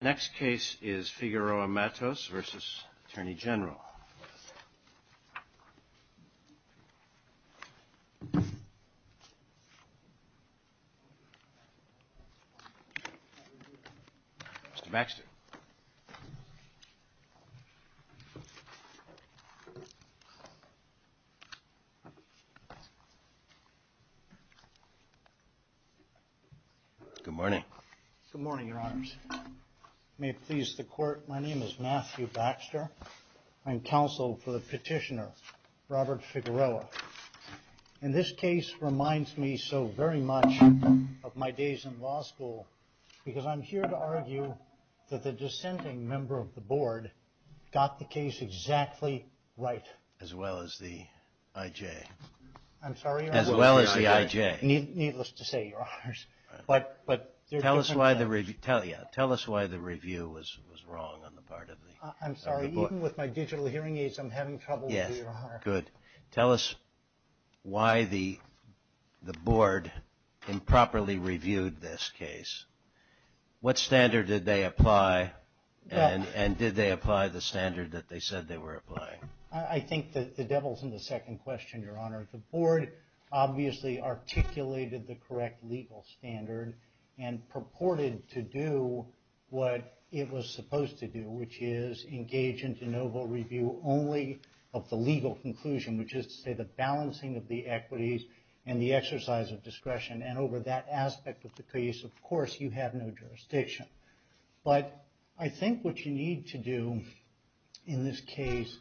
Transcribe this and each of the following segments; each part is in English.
Next case is Figueroa-Matos v. Attorney General. Mr. Baxter. Good morning. Good morning, your honors. May it please the court, my name is Matthew Baxter. I'm counsel for the petitioner, Robert Figueroa. And this case reminds me so very much of my days in law school because I'm here to argue that the dissenting member of the board got the case exactly right. As well as the I.J. I'm sorry? As well as the I.J. Needless to say, your honors. Tell us why the review was wrong on the part of the board. I'm sorry, even with my digital hearing aids, I'm having trouble, your honor. Good. Tell us why the board improperly reviewed this case. What standard did they apply and did they apply the standard that they said they were applying? I think the devil's in the second question, your honor. The board obviously articulated the correct legal standard and purported to do what it was supposed to do, which is engage in de novo review only of the legal conclusion, which is to say the balancing of the equities and the exercise of discretion. And over that aspect of the case, of course, you have no jurisdiction. But I think what you need to do in this case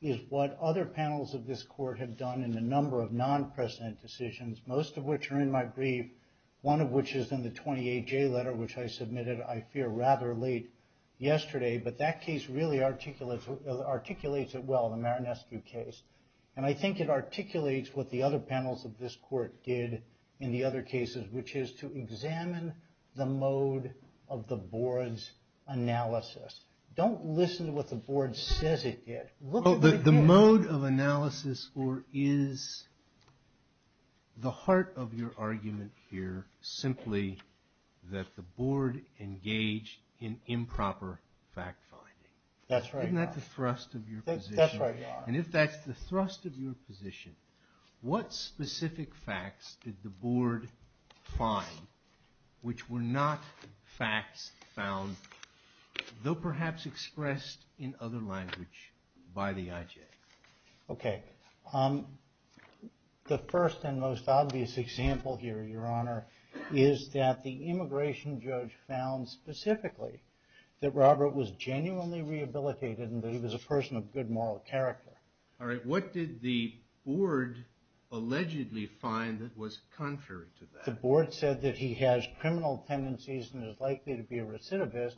is what other panels of this court have done in a number of non-president decisions, most of which are in my brief, one of which is in the 28J letter, which I submitted, I fear, rather late yesterday. But that case really articulates it well, the Maranescu case. And I think it articulates what the other panels of this court did in the other cases, which is to examine the mode of the board's analysis. Don't listen to what the board says it did. The mode of analysis, or is the heart of your argument here simply that the board engaged in improper fact finding? That's right, your honor. Isn't that the thrust of your position? That's right, your honor. And if that's the thrust of your position, what specific facts did the board find which were not facts found, though perhaps expressed in other language, by the IJ? Okay. The first and most obvious example here, your honor, is that the immigration judge found specifically that Robert was genuinely rehabilitated and that he was a person of good moral character. All right. What did the board allegedly find that was contrary to that? The board said that he has criminal tendencies and is likely to be a recidivist.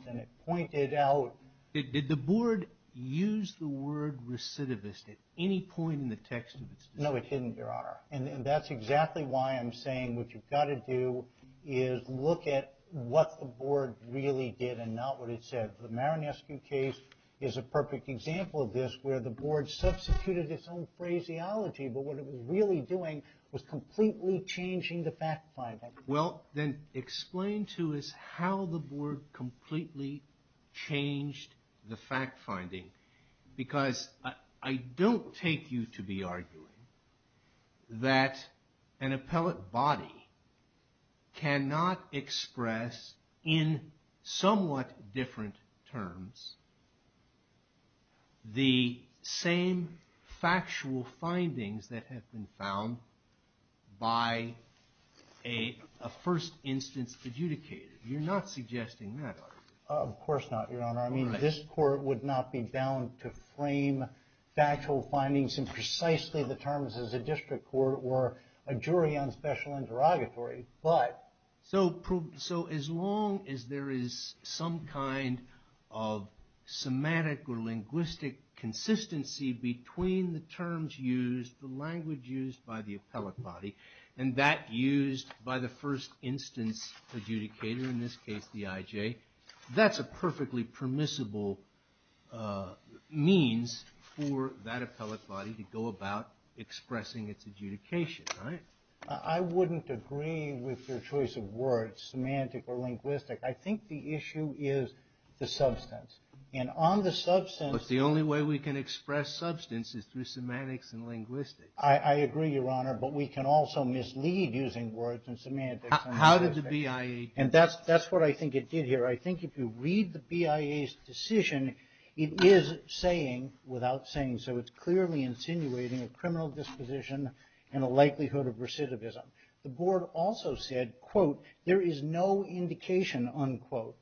Did the board use the word recidivist at any point in the text of its decision? No, it didn't, your honor. And that's exactly why I'm saying what you've got to do is look at what the board really did and not what it said. The Marinescu case is a perfect example of this, where the board substituted its own phraseology, but what it was really doing was completely changing the fact finding. Well, then explain to us how the board completely changed the fact finding, because I don't take you to be arguing that an appellate body cannot express, in somewhat different terms, the same factual findings that have been found by a first instance adjudicator. You're not suggesting that, are you? Of course not, your honor. I mean, this court would not be bound to frame factual findings in precisely the terms as a district court or a jury on special interrogatory. So as long as there is some kind of semantic or linguistic consistency between the terms used, the language used by the appellate body, and that used by the first instance adjudicator, in this case the IJ, that's a perfectly permissible means for that appellate body to go about expressing its adjudication, right? I wouldn't agree with your choice of words, semantic or linguistic. I think the issue is the substance. And on the substance... But the only way we can express substance is through semantics and linguistics. I agree, your honor, but we can also mislead using words and semantics. How did the BIA... And that's what I think it did here. I think if you read the BIA's decision, it is saying, without saying, so it's clearly insinuating a criminal disposition and a likelihood of recidivism. The board also said, quote, there is no indication, unquote,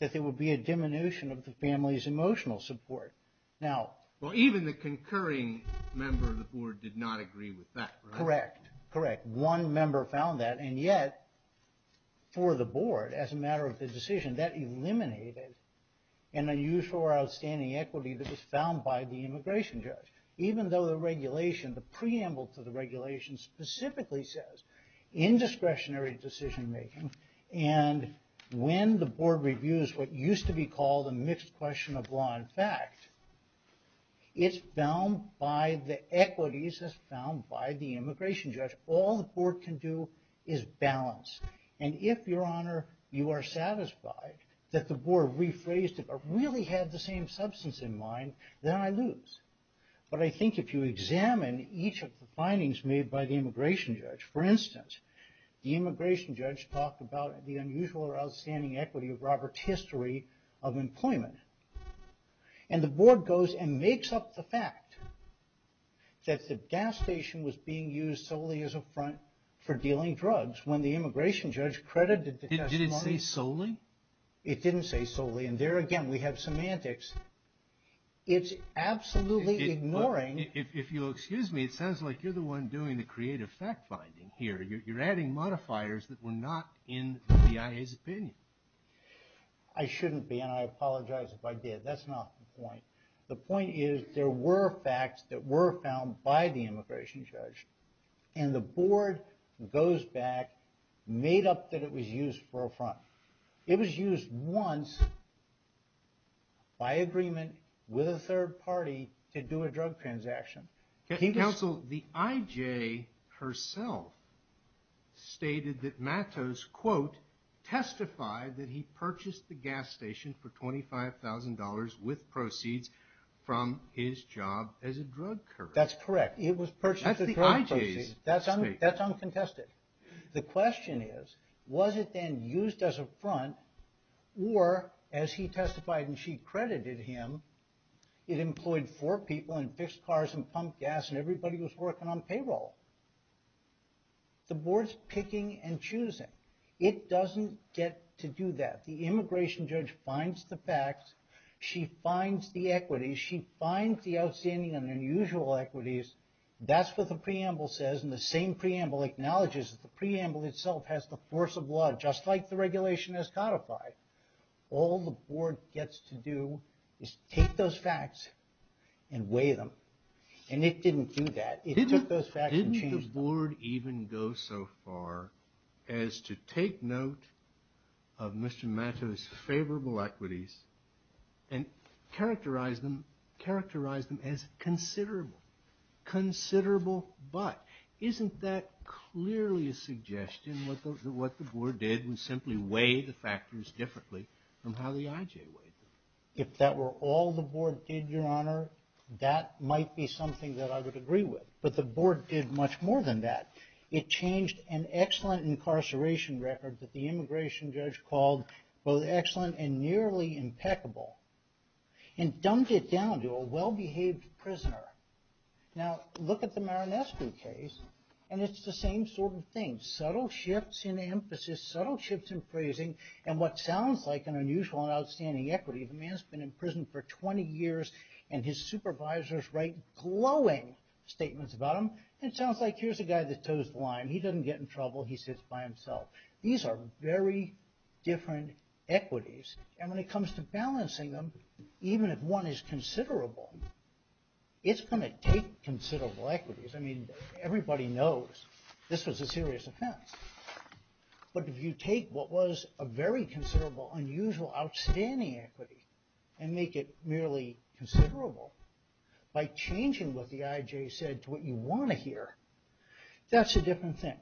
that there will be a diminution of the family's emotional support. Now... Well, even the concurring member of the board did not agree with that, right? Correct, correct. One member found that, and yet, for the board, as a matter of the decision, that eliminated an unusual or outstanding equity that was found by the immigration judge. Even though the regulation, the preamble to the regulation specifically says, indiscretionary decision-making, and when the board reviews what used to be called a mixed question of law and fact, it's found by the equities as found by the immigration judge. All the board can do is balance. And if, your honor, you are satisfied that the board rephrased it or really had the same substance in mind, then I lose. But I think if you examine each of the findings made by the immigration judge, for instance, the immigration judge talked about the unusual or outstanding equity of Robert's history of employment. And the board goes and makes up the fact that the gas station was being used solely as a front for dealing drugs when the immigration judge credited the testimony... It didn't say solely? It didn't say solely. And there again, we have semantics. It's absolutely ignoring... If you'll excuse me, it sounds like you're the one doing the creative fact-finding here. You're adding modifiers that were not in the BIA's opinion. I shouldn't be, and I apologize if I did. That's not the point. The point is there were facts that were found by the immigration judge, and the board goes back, made up that it was used for a front. It was used once by agreement with a third party to do a drug transaction. Counsel, the IJ herself stated that Mattos, quote, testified that he purchased the gas station for $25,000 with proceeds from his job as a drug courier. That's correct. It was purchased as a drug proceed. That's the IJ's statement. That's uncontested. The question is, was it then used as a front, or as he testified and she credited him, it employed four people and fixed cars and pumped gas and everybody was working on payroll? The board's picking and choosing. It doesn't get to do that. The immigration judge finds the facts. She finds the equities. She finds the outstanding and unusual equities. That's what the preamble says, and the same preamble acknowledges that the preamble itself has the force of law, just like the regulation has codified. All the board gets to do is take those facts and weigh them, and it didn't do that. It took those facts and changed them. Why did the board even go so far as to take note of Mr. Matos' favorable equities and characterize them as considerable, considerable but? Isn't that clearly a suggestion that what the board did was simply weigh the factors differently from how the IJ weighed them? If that were all the board did, Your Honor, that might be something that I would agree with. But the board did much more than that. It changed an excellent incarceration record that the immigration judge called both excellent and nearly impeccable and dumped it down to a well-behaved prisoner. Now, look at the Marinescu case, and it's the same sort of thing. Subtle shifts in emphasis, subtle shifts in phrasing, and what sounds like an unusual and outstanding equity. The man's been in prison for 20 years, and his supervisors write glowing statements about him, and it sounds like here's a guy that tows the line. He doesn't get in trouble. He sits by himself. These are very different equities, and when it comes to balancing them, even if one is considerable, it's going to take considerable equities. I mean, everybody knows this was a serious offense. But if you take what was a very considerable, unusual, outstanding equity and make it merely considerable by changing what the IJ said to what you want to hear, that's a different thing.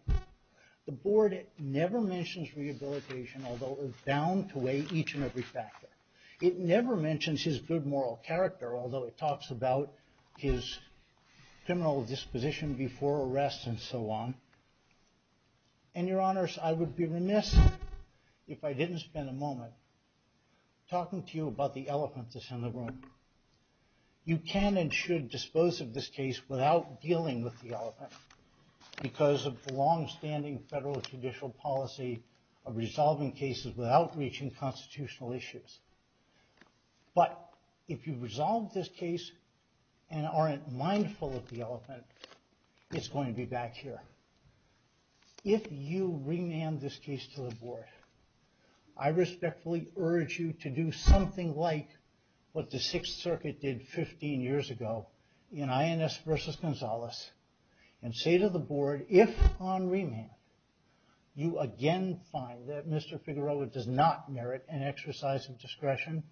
The board never mentions rehabilitation, although it's bound to weigh each and every factor. It never mentions his good moral character, although it talks about his criminal disposition before arrest and so on. And your honors, I would be remiss if I didn't spend a moment talking to you about the elephant that's in the room. You can and should dispose of this case without dealing with the elephant because of the longstanding federal judicial policy of resolving cases without reaching constitutional issues. But if you resolve this case and aren't mindful of the elephant, it's going to be back here. If you remand this case to the board, I respectfully urge you to do something like what the Sixth Circuit did 15 years ago in INS versus Gonzales and say to the board, if on remand you again find that Mr. Figueroa does not merit an exercise of discretion,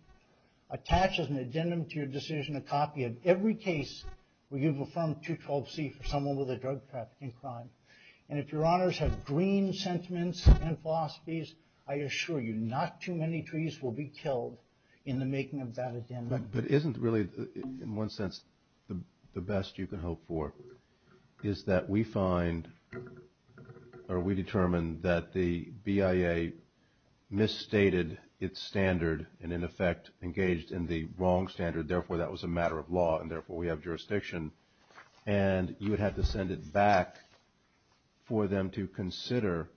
attach as an addendum to your decision a copy of every case where you've affirmed 212C for someone with a drug trafficking crime. And if your honors have green sentiments and philosophies, I assure you not too many trees will be killed in the making of that addendum. But isn't really, in one sense, the best you can hope for is that we find or we determine that the BIA misstated its standard and, in effect, engaged in the wrong standard. Therefore, that was a matter of law and, therefore, we have jurisdiction. And you would have to send it back for them to consider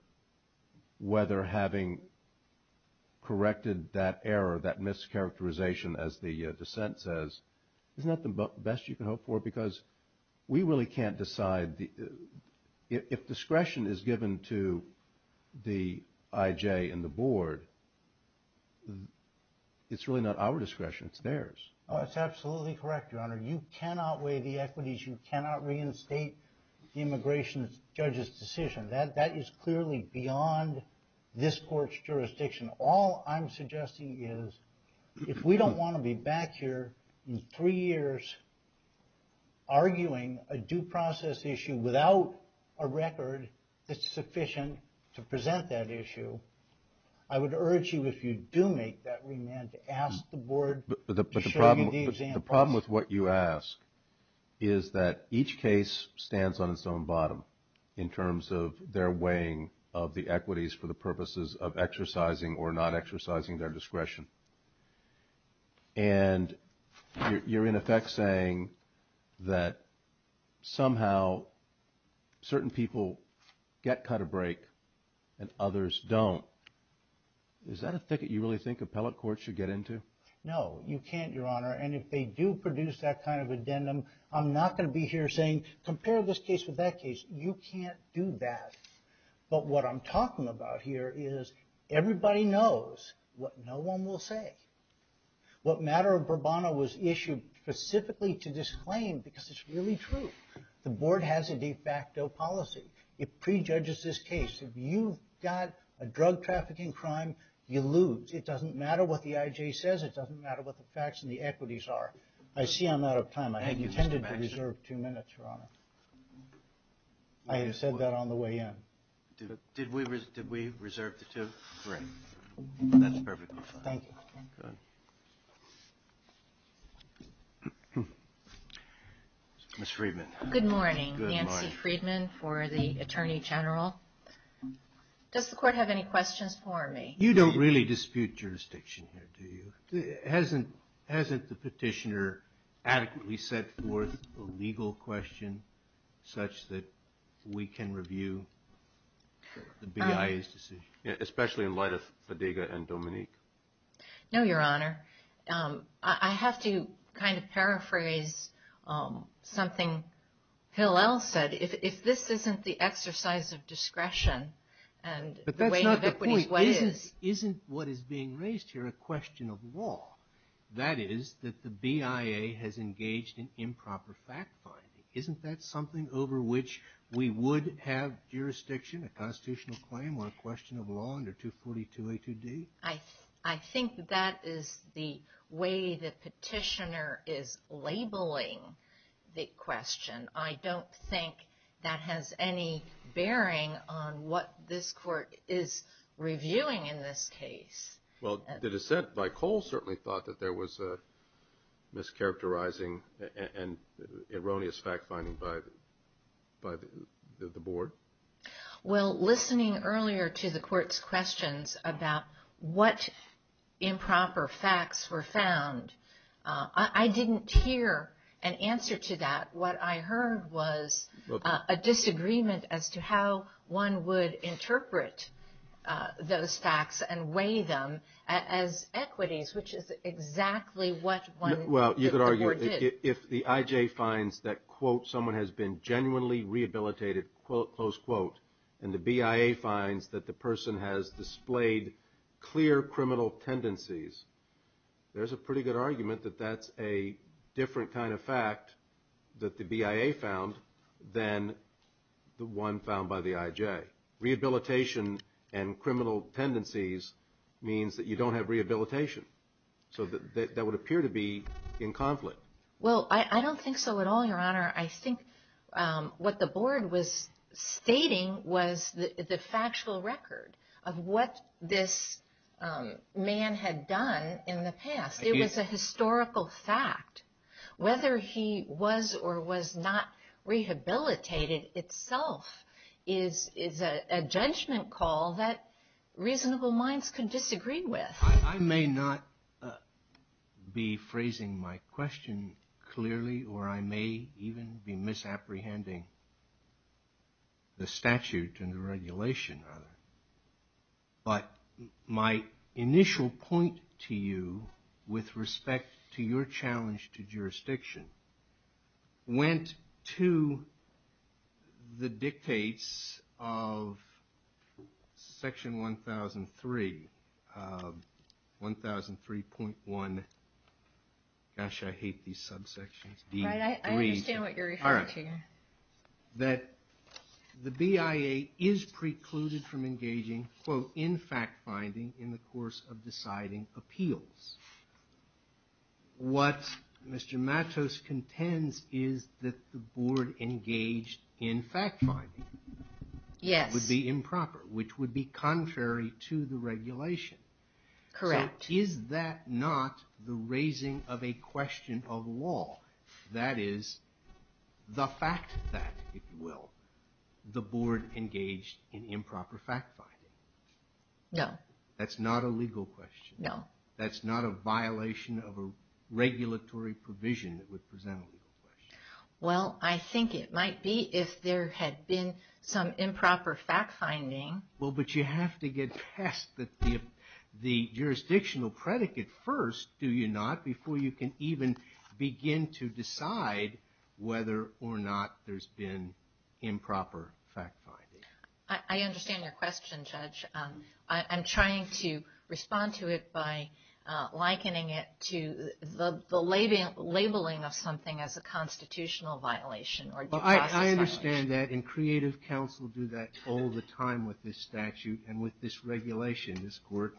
whether having corrected that error, that mischaracterization, as the dissent says, isn't that the best you can hope for? Because we really can't decide. If discretion is given to the IJ and the board, it's really not our discretion. It's theirs. It's absolutely correct, Your Honor. You cannot weigh the equities. You cannot reinstate the immigration judge's decision. That is clearly beyond this court's jurisdiction. All I'm suggesting is if we don't want to be back here in three years arguing a due process issue without a record that's sufficient to present that issue, I would urge you, if you do make that remand, to ask the board to show you the examples. The problem with what you ask is that each case stands on its own bottom in terms of their weighing of the equities for the purposes of exercising or not exercising their discretion. And you're, in effect, saying that somehow certain people get cut or break and others don't. Is that a thicket you really think appellate courts should get into? No, you can't, Your Honor. And if they do produce that kind of addendum, I'm not going to be here saying, compare this case with that case. You can't do that. But what I'm talking about here is everybody knows what no one will say. What matter of Burbano was issued specifically to disclaim because it's really true. The board has a de facto policy. It prejudges this case. If you've got a drug trafficking crime, you lose. It doesn't matter what the IJ says. It doesn't matter what the facts and the equities are. I see I'm out of time. I had intended to reserve two minutes, Your Honor. I had said that on the way in. Did we reserve the two? Great. That's perfect. Thank you. Good. Ms. Friedman. Good morning. Nancy Friedman for the Attorney General. Does the court have any questions for me? You don't really dispute jurisdiction here, do you? Hasn't the petitioner adequately set forth a legal question such that we can review the BIA's decision? Especially in light of Fadiga and Dominique. No, Your Honor. I have to kind of paraphrase something Hillel said. If this isn't the exercise of discretion and the weight of equities, what is? But that's not the point. Isn't what is being raised here a question of law? That is, that the BIA has engaged in improper fact-finding. Isn't that something over which we would have jurisdiction, a constitutional claim, or a question of law under 242A2D? I think that is the way the petitioner is labeling the question. I don't think that has any bearing on what this court is reviewing in this case. Well, the dissent by Cole certainly thought that there was mischaracterizing and erroneous fact-finding by the board. Well, listening earlier to the court's questions about what improper facts were found, I didn't hear an answer to that. What I heard was a disagreement as to how one would interpret those facts and weigh them as equities, which is exactly what the board did. Well, you could argue that if the IJ finds that, quote, someone has been genuinely rehabilitated, close quote, and the BIA finds that the person has displayed clear criminal tendencies, there's a pretty good argument that that's a different kind of fact that the BIA found than the one found by the IJ. Rehabilitation and criminal tendencies means that you don't have rehabilitation. So that would appear to be in conflict. Well, I don't think so at all, Your Honor. I think what the board was stating was the factual record of what this man had done in the past. It was a historical fact. Whether he was or was not rehabilitated itself is a judgment call that reasonable minds can disagree with. I may not be phrasing my question clearly, or I may even be misapprehending the statute and the regulation, but my initial point to you with respect to your challenge to jurisdiction went to the dictates of Section 1003, 1003.1, gosh, I hate these subsections. I understand what you're referring to. That the BIA is precluded from engaging, quote, in fact finding in the course of deciding appeals. What Mr. Matos contends is that the board engaged in fact finding. Yes. Would be improper, which would be contrary to the regulation. Correct. Is that not the raising of a question of law? That is, the fact that, if you will, the board engaged in improper fact finding. No. That's not a legal question. No. That's not a violation of a regulatory provision that would present a legal question. Well, I think it might be if there had been some improper fact finding. Well, but you have to get past the jurisdictional predicate first, do you not, before you can even begin to decide whether or not there's been improper fact finding. I understand your question, Judge. I'm trying to respond to it by likening it to the labeling of something as a constitutional violation or due process violation. I understand that, and creative counsel do that all the time with this statute and with this regulation. This court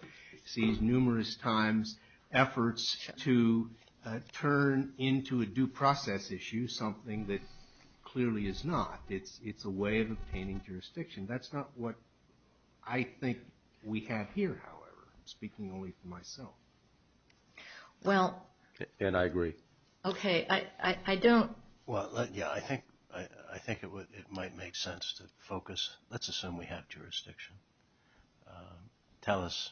sees numerous times efforts to turn into a due process issue something that clearly is not. It's a way of obtaining jurisdiction. That's not what I think we have here, however. I'm speaking only for myself. And I agree. Okay, I don't. Well, yeah, I think it might make sense to focus. Let's assume we have jurisdiction. Tell us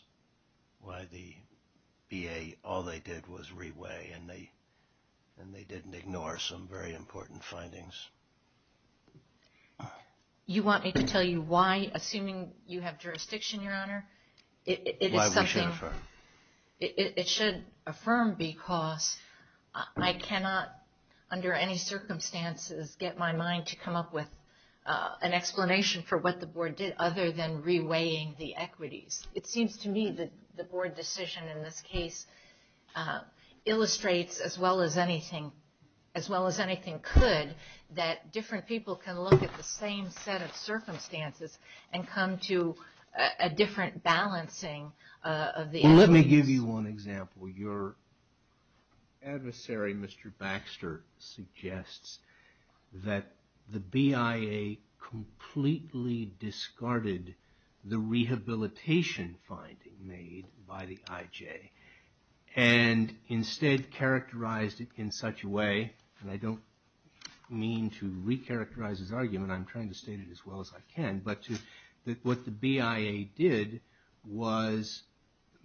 why the VA, all they did was re-weigh, and they didn't ignore some very important findings. You want me to tell you why, assuming you have jurisdiction, Your Honor? Why we should affirm. It should affirm because I cannot, under any circumstances, get my mind to come up with an explanation for what the Board did other than re-weighing the equities. It seems to me that the Board decision in this case illustrates, as well as anything could, that different people can look at the same set of circumstances and come to a different balancing of the equities. Well, let me give you one example. Your adversary, Mr. Baxter, suggests that the BIA completely discarded the rehabilitation finding made by the IJ and instead characterized it in such a way, and I don't mean to re-characterize his argument. I'm trying to state it as well as I can. But what the BIA did was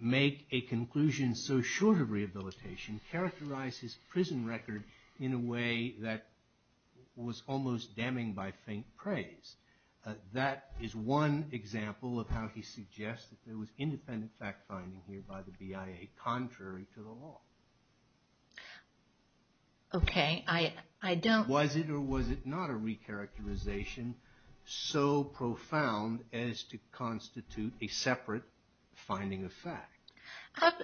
make a conclusion so short of rehabilitation, characterize his prison record in a way that was almost damning by faint praise. That is one example of how he suggests that there was independent fact-finding here by the BIA, contrary to the law. Was it or was it not a re-characterization so profound as to constitute a separate finding of fact?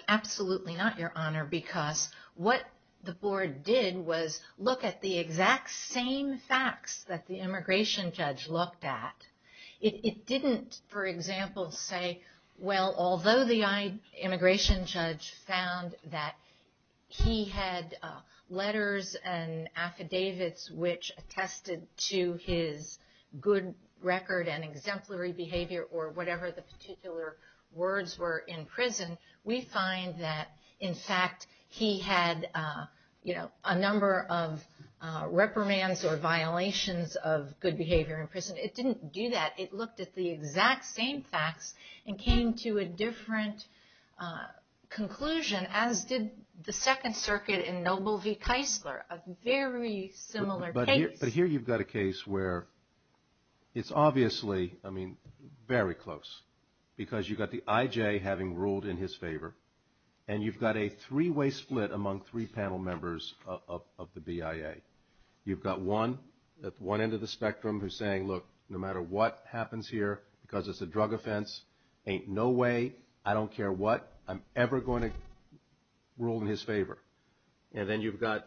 Absolutely not, Your Honor, because what the Board did was look at the exact same facts that the immigration judge looked at. It didn't, for example, say, well, although the immigration judge found that he had letters and affidavits which attested to his good record and exemplary behavior or whatever the particular words were in prison, we find that, in fact, he had a number of reprimands or violations of good behavior in prison. It didn't do that. It looked at the exact same facts and came to a different conclusion, as did the Second Circuit in Noble v. Keisler, a very similar case. But here you've got a case where it's obviously, I mean, very close, because you've got the IJ having ruled in his favor, and you've got a three-way split among three panel members of the BIA. You've got one at one end of the spectrum who's saying, look, no matter what happens here, because it's a drug offense, ain't no way, I don't care what, I'm ever going to rule in his favor. And then you've got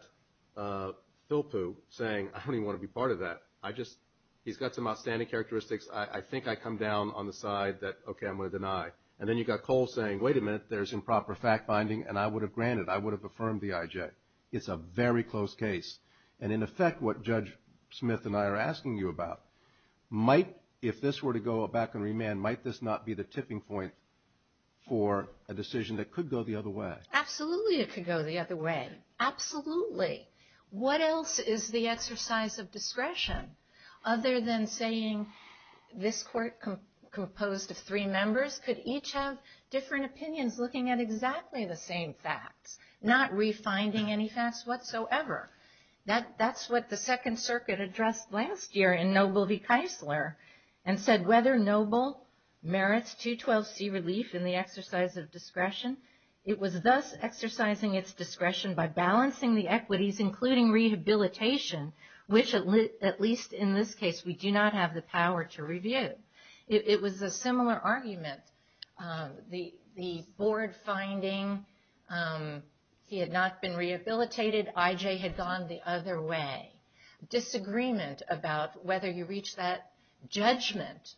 Philpoo saying, I don't even want to be part of that. I just, he's got some outstanding characteristics. I think I come down on the side that, okay, I'm going to deny. And then you've got Cole saying, wait a minute, there's improper fact-binding, and I would have granted, I would have affirmed the IJ. It's a very close case. And, in effect, what Judge Smith and I are asking you about, might, if this were to go back on remand, might this not be the tipping point for a decision that could go the other way? Absolutely it could go the other way. Absolutely. What else is the exercise of discretion other than saying this court composed of three members could each have different opinions looking at exactly the same facts, not refinding any facts whatsoever? That's what the Second Circuit addressed last year in Noble v. Keisler and said whether Noble merits 212C relief in the exercise of discretion. It was thus exercising its discretion by balancing the equities, including rehabilitation, which at least in this case we do not have the power to review. It was a similar argument, the board finding he had not been rehabilitated, IJ had gone the other way. Disagreement about whether you reach that judgment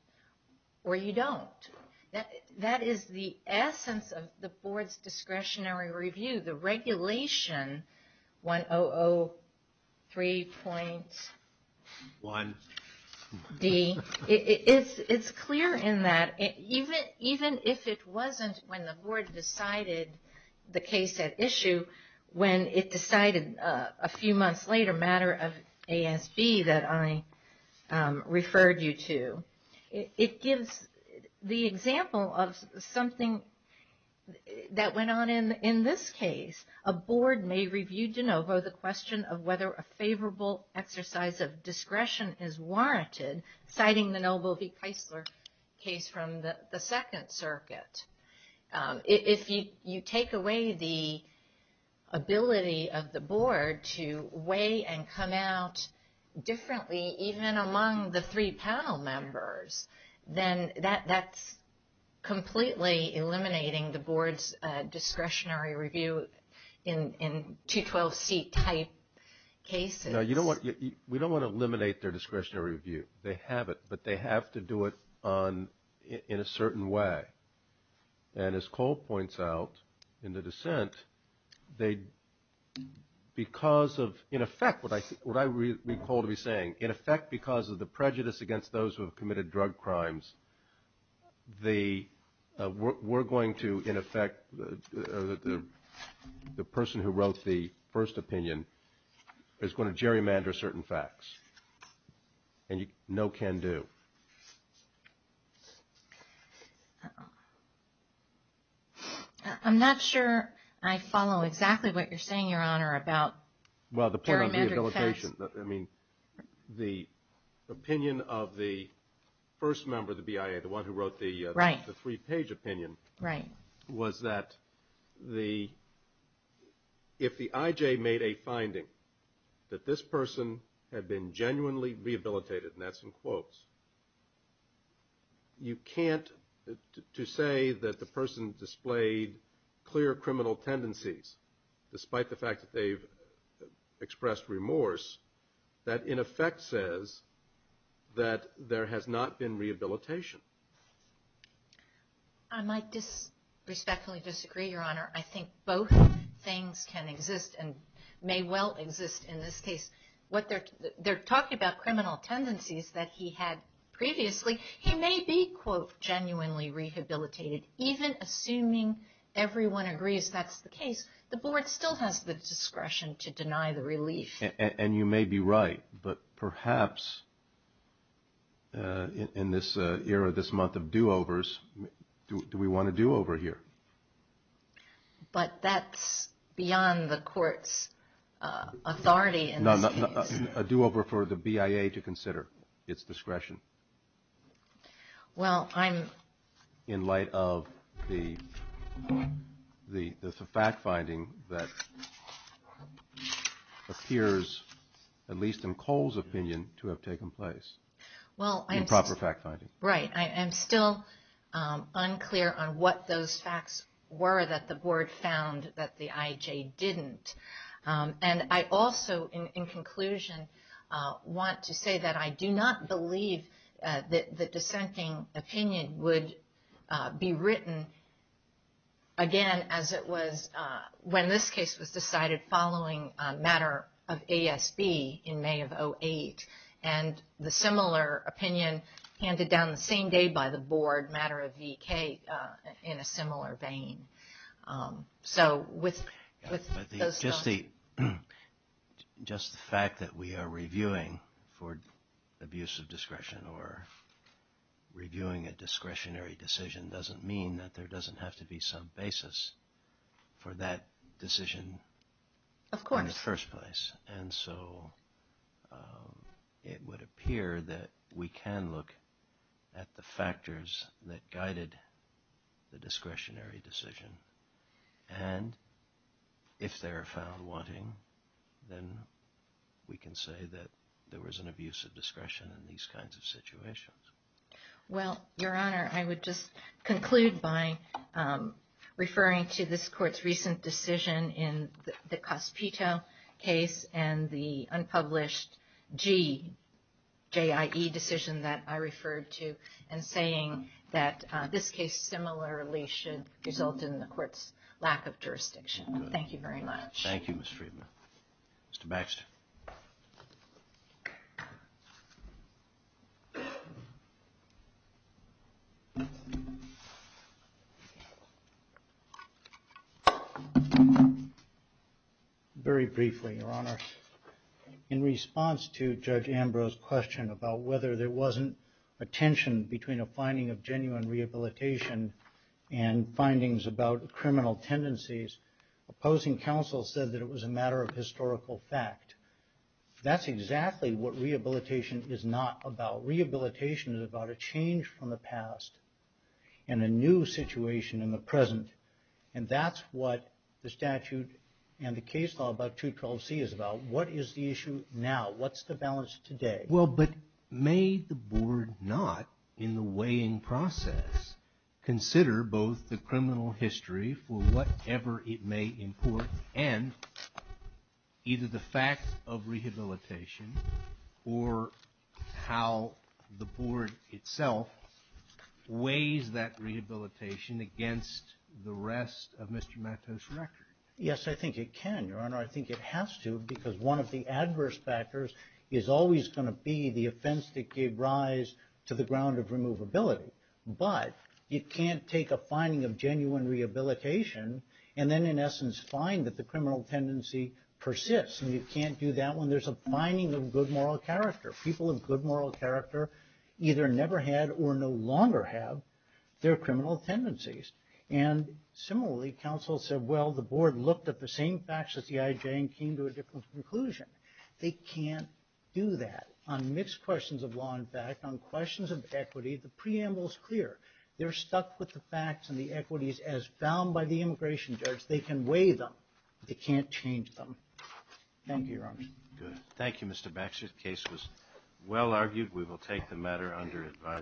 or you don't. That is the essence of the board's discretionary review, the regulation 1003.1D. It's clear in that, even if it wasn't when the board decided the case at issue, when it decided a few months later, a matter of ASB that I referred you to, it gives the example of something that went on in this case. A board may review de novo the question of whether a favorable exercise of discretion is warranted, citing the Noble v. Keisler case from the Second Circuit. If you take away the ability of the board to weigh and come out differently, even among the three panel members, then that's completely eliminating the board's discretionary review in 212C type cases. We don't want to eliminate their discretionary review. They have it, but they have to do it in a certain way. And as Cole points out in the dissent, because of, in effect, what I recall to be saying, in effect because of the prejudice against those who have committed drug crimes, we're going to, in effect, the person who wrote the first opinion is going to gerrymander certain facts. And no can do. I'm not sure I follow exactly what you're saying, Your Honor, about gerrymandering facts. Well, the point on rehabilitation, I mean, the opinion of the first member of the BIA, the one who wrote the three-page opinion, was that if the I.J. made a finding that this person had been genuinely rehabilitated, and that's in quotes, you can't, to say that the person displayed clear criminal tendencies, despite the fact that they've expressed remorse, that in effect says that there has not been rehabilitation. I might respectfully disagree, Your Honor. I think both things can exist and may well exist in this case. They're talking about criminal tendencies that he had previously. He may be, quote, genuinely rehabilitated, even assuming everyone agrees that's the case. The Board still has the discretion to deny the relief. And you may be right, but perhaps in this era, this month of do-overs, do we want a do-over here? But that's beyond the court's authority in this case. No, a do-over for the BIA to consider its discretion. Well, I'm... In light of the fact-finding that appears, at least in Cole's opinion, to have taken place. Well, I'm... Improper fact-finding. Right. I am still unclear on what those facts were that the Board found that the IJ didn't. And I also, in conclusion, want to say that I do not believe that the dissenting opinion would be written, again, as it was when this case was decided following a matter of ASB in May of 2008. And the similar opinion handed down the same day by the Board, matter of VK, in a similar vein. So with those thoughts... Just the fact that we are reviewing for abuse of discretion or reviewing a discretionary decision doesn't mean that there doesn't have to be some basis for that decision in the first place. Of course. And so it would appear that we can look at the factors that guided the discretionary decision. And if they are found wanting, then we can say that there was an abuse of discretion in these kinds of situations. Well, Your Honor, I would just conclude by referring to this Court's recent decision in the Cospito case and the unpublished GJIE decision that I referred to, and saying that this case similarly should result in the Court's lack of jurisdiction. Thank you very much. Thank you, Ms. Friedman. Mr. Baxter. Thank you, Your Honor. Very briefly, Your Honor. In response to Judge Ambrose's question about whether there wasn't a tension between a finding of genuine rehabilitation and findings about criminal tendencies, opposing counsel said that it was a matter of historical fact. That's exactly what rehabilitation is not about. Rehabilitation is about a change from the past and a new situation in the present. And that's what the statute and the case law about 212C is about. What is the issue now? What's the balance today? Well, but may the Board not, in the weighing process, consider both the criminal history for whatever it may import and either the fact of rehabilitation or how the Board itself weighs that rehabilitation against the rest of Mr. Matto's record? Your Honor, I think it has to because one of the adverse factors is always going to be the offense that gave rise to the ground of removability. But you can't take a finding of genuine rehabilitation and then, in essence, find that the criminal tendency persists. And you can't do that when there's a finding of good moral character. People of good moral character either never had or no longer have their criminal tendencies. And similarly, counsel said, well, the Board looked at the same facts as the IJ and came to a different conclusion. They can't do that. On mixed questions of law and fact, on questions of equity, the preamble is clear. They're stuck with the facts and the equities as found by the immigration judge. They can weigh them. They can't change them. Thank you, Your Honor. Good. Thank you, Mr. Baxter. The case was well argued. We will take the matter under advisory.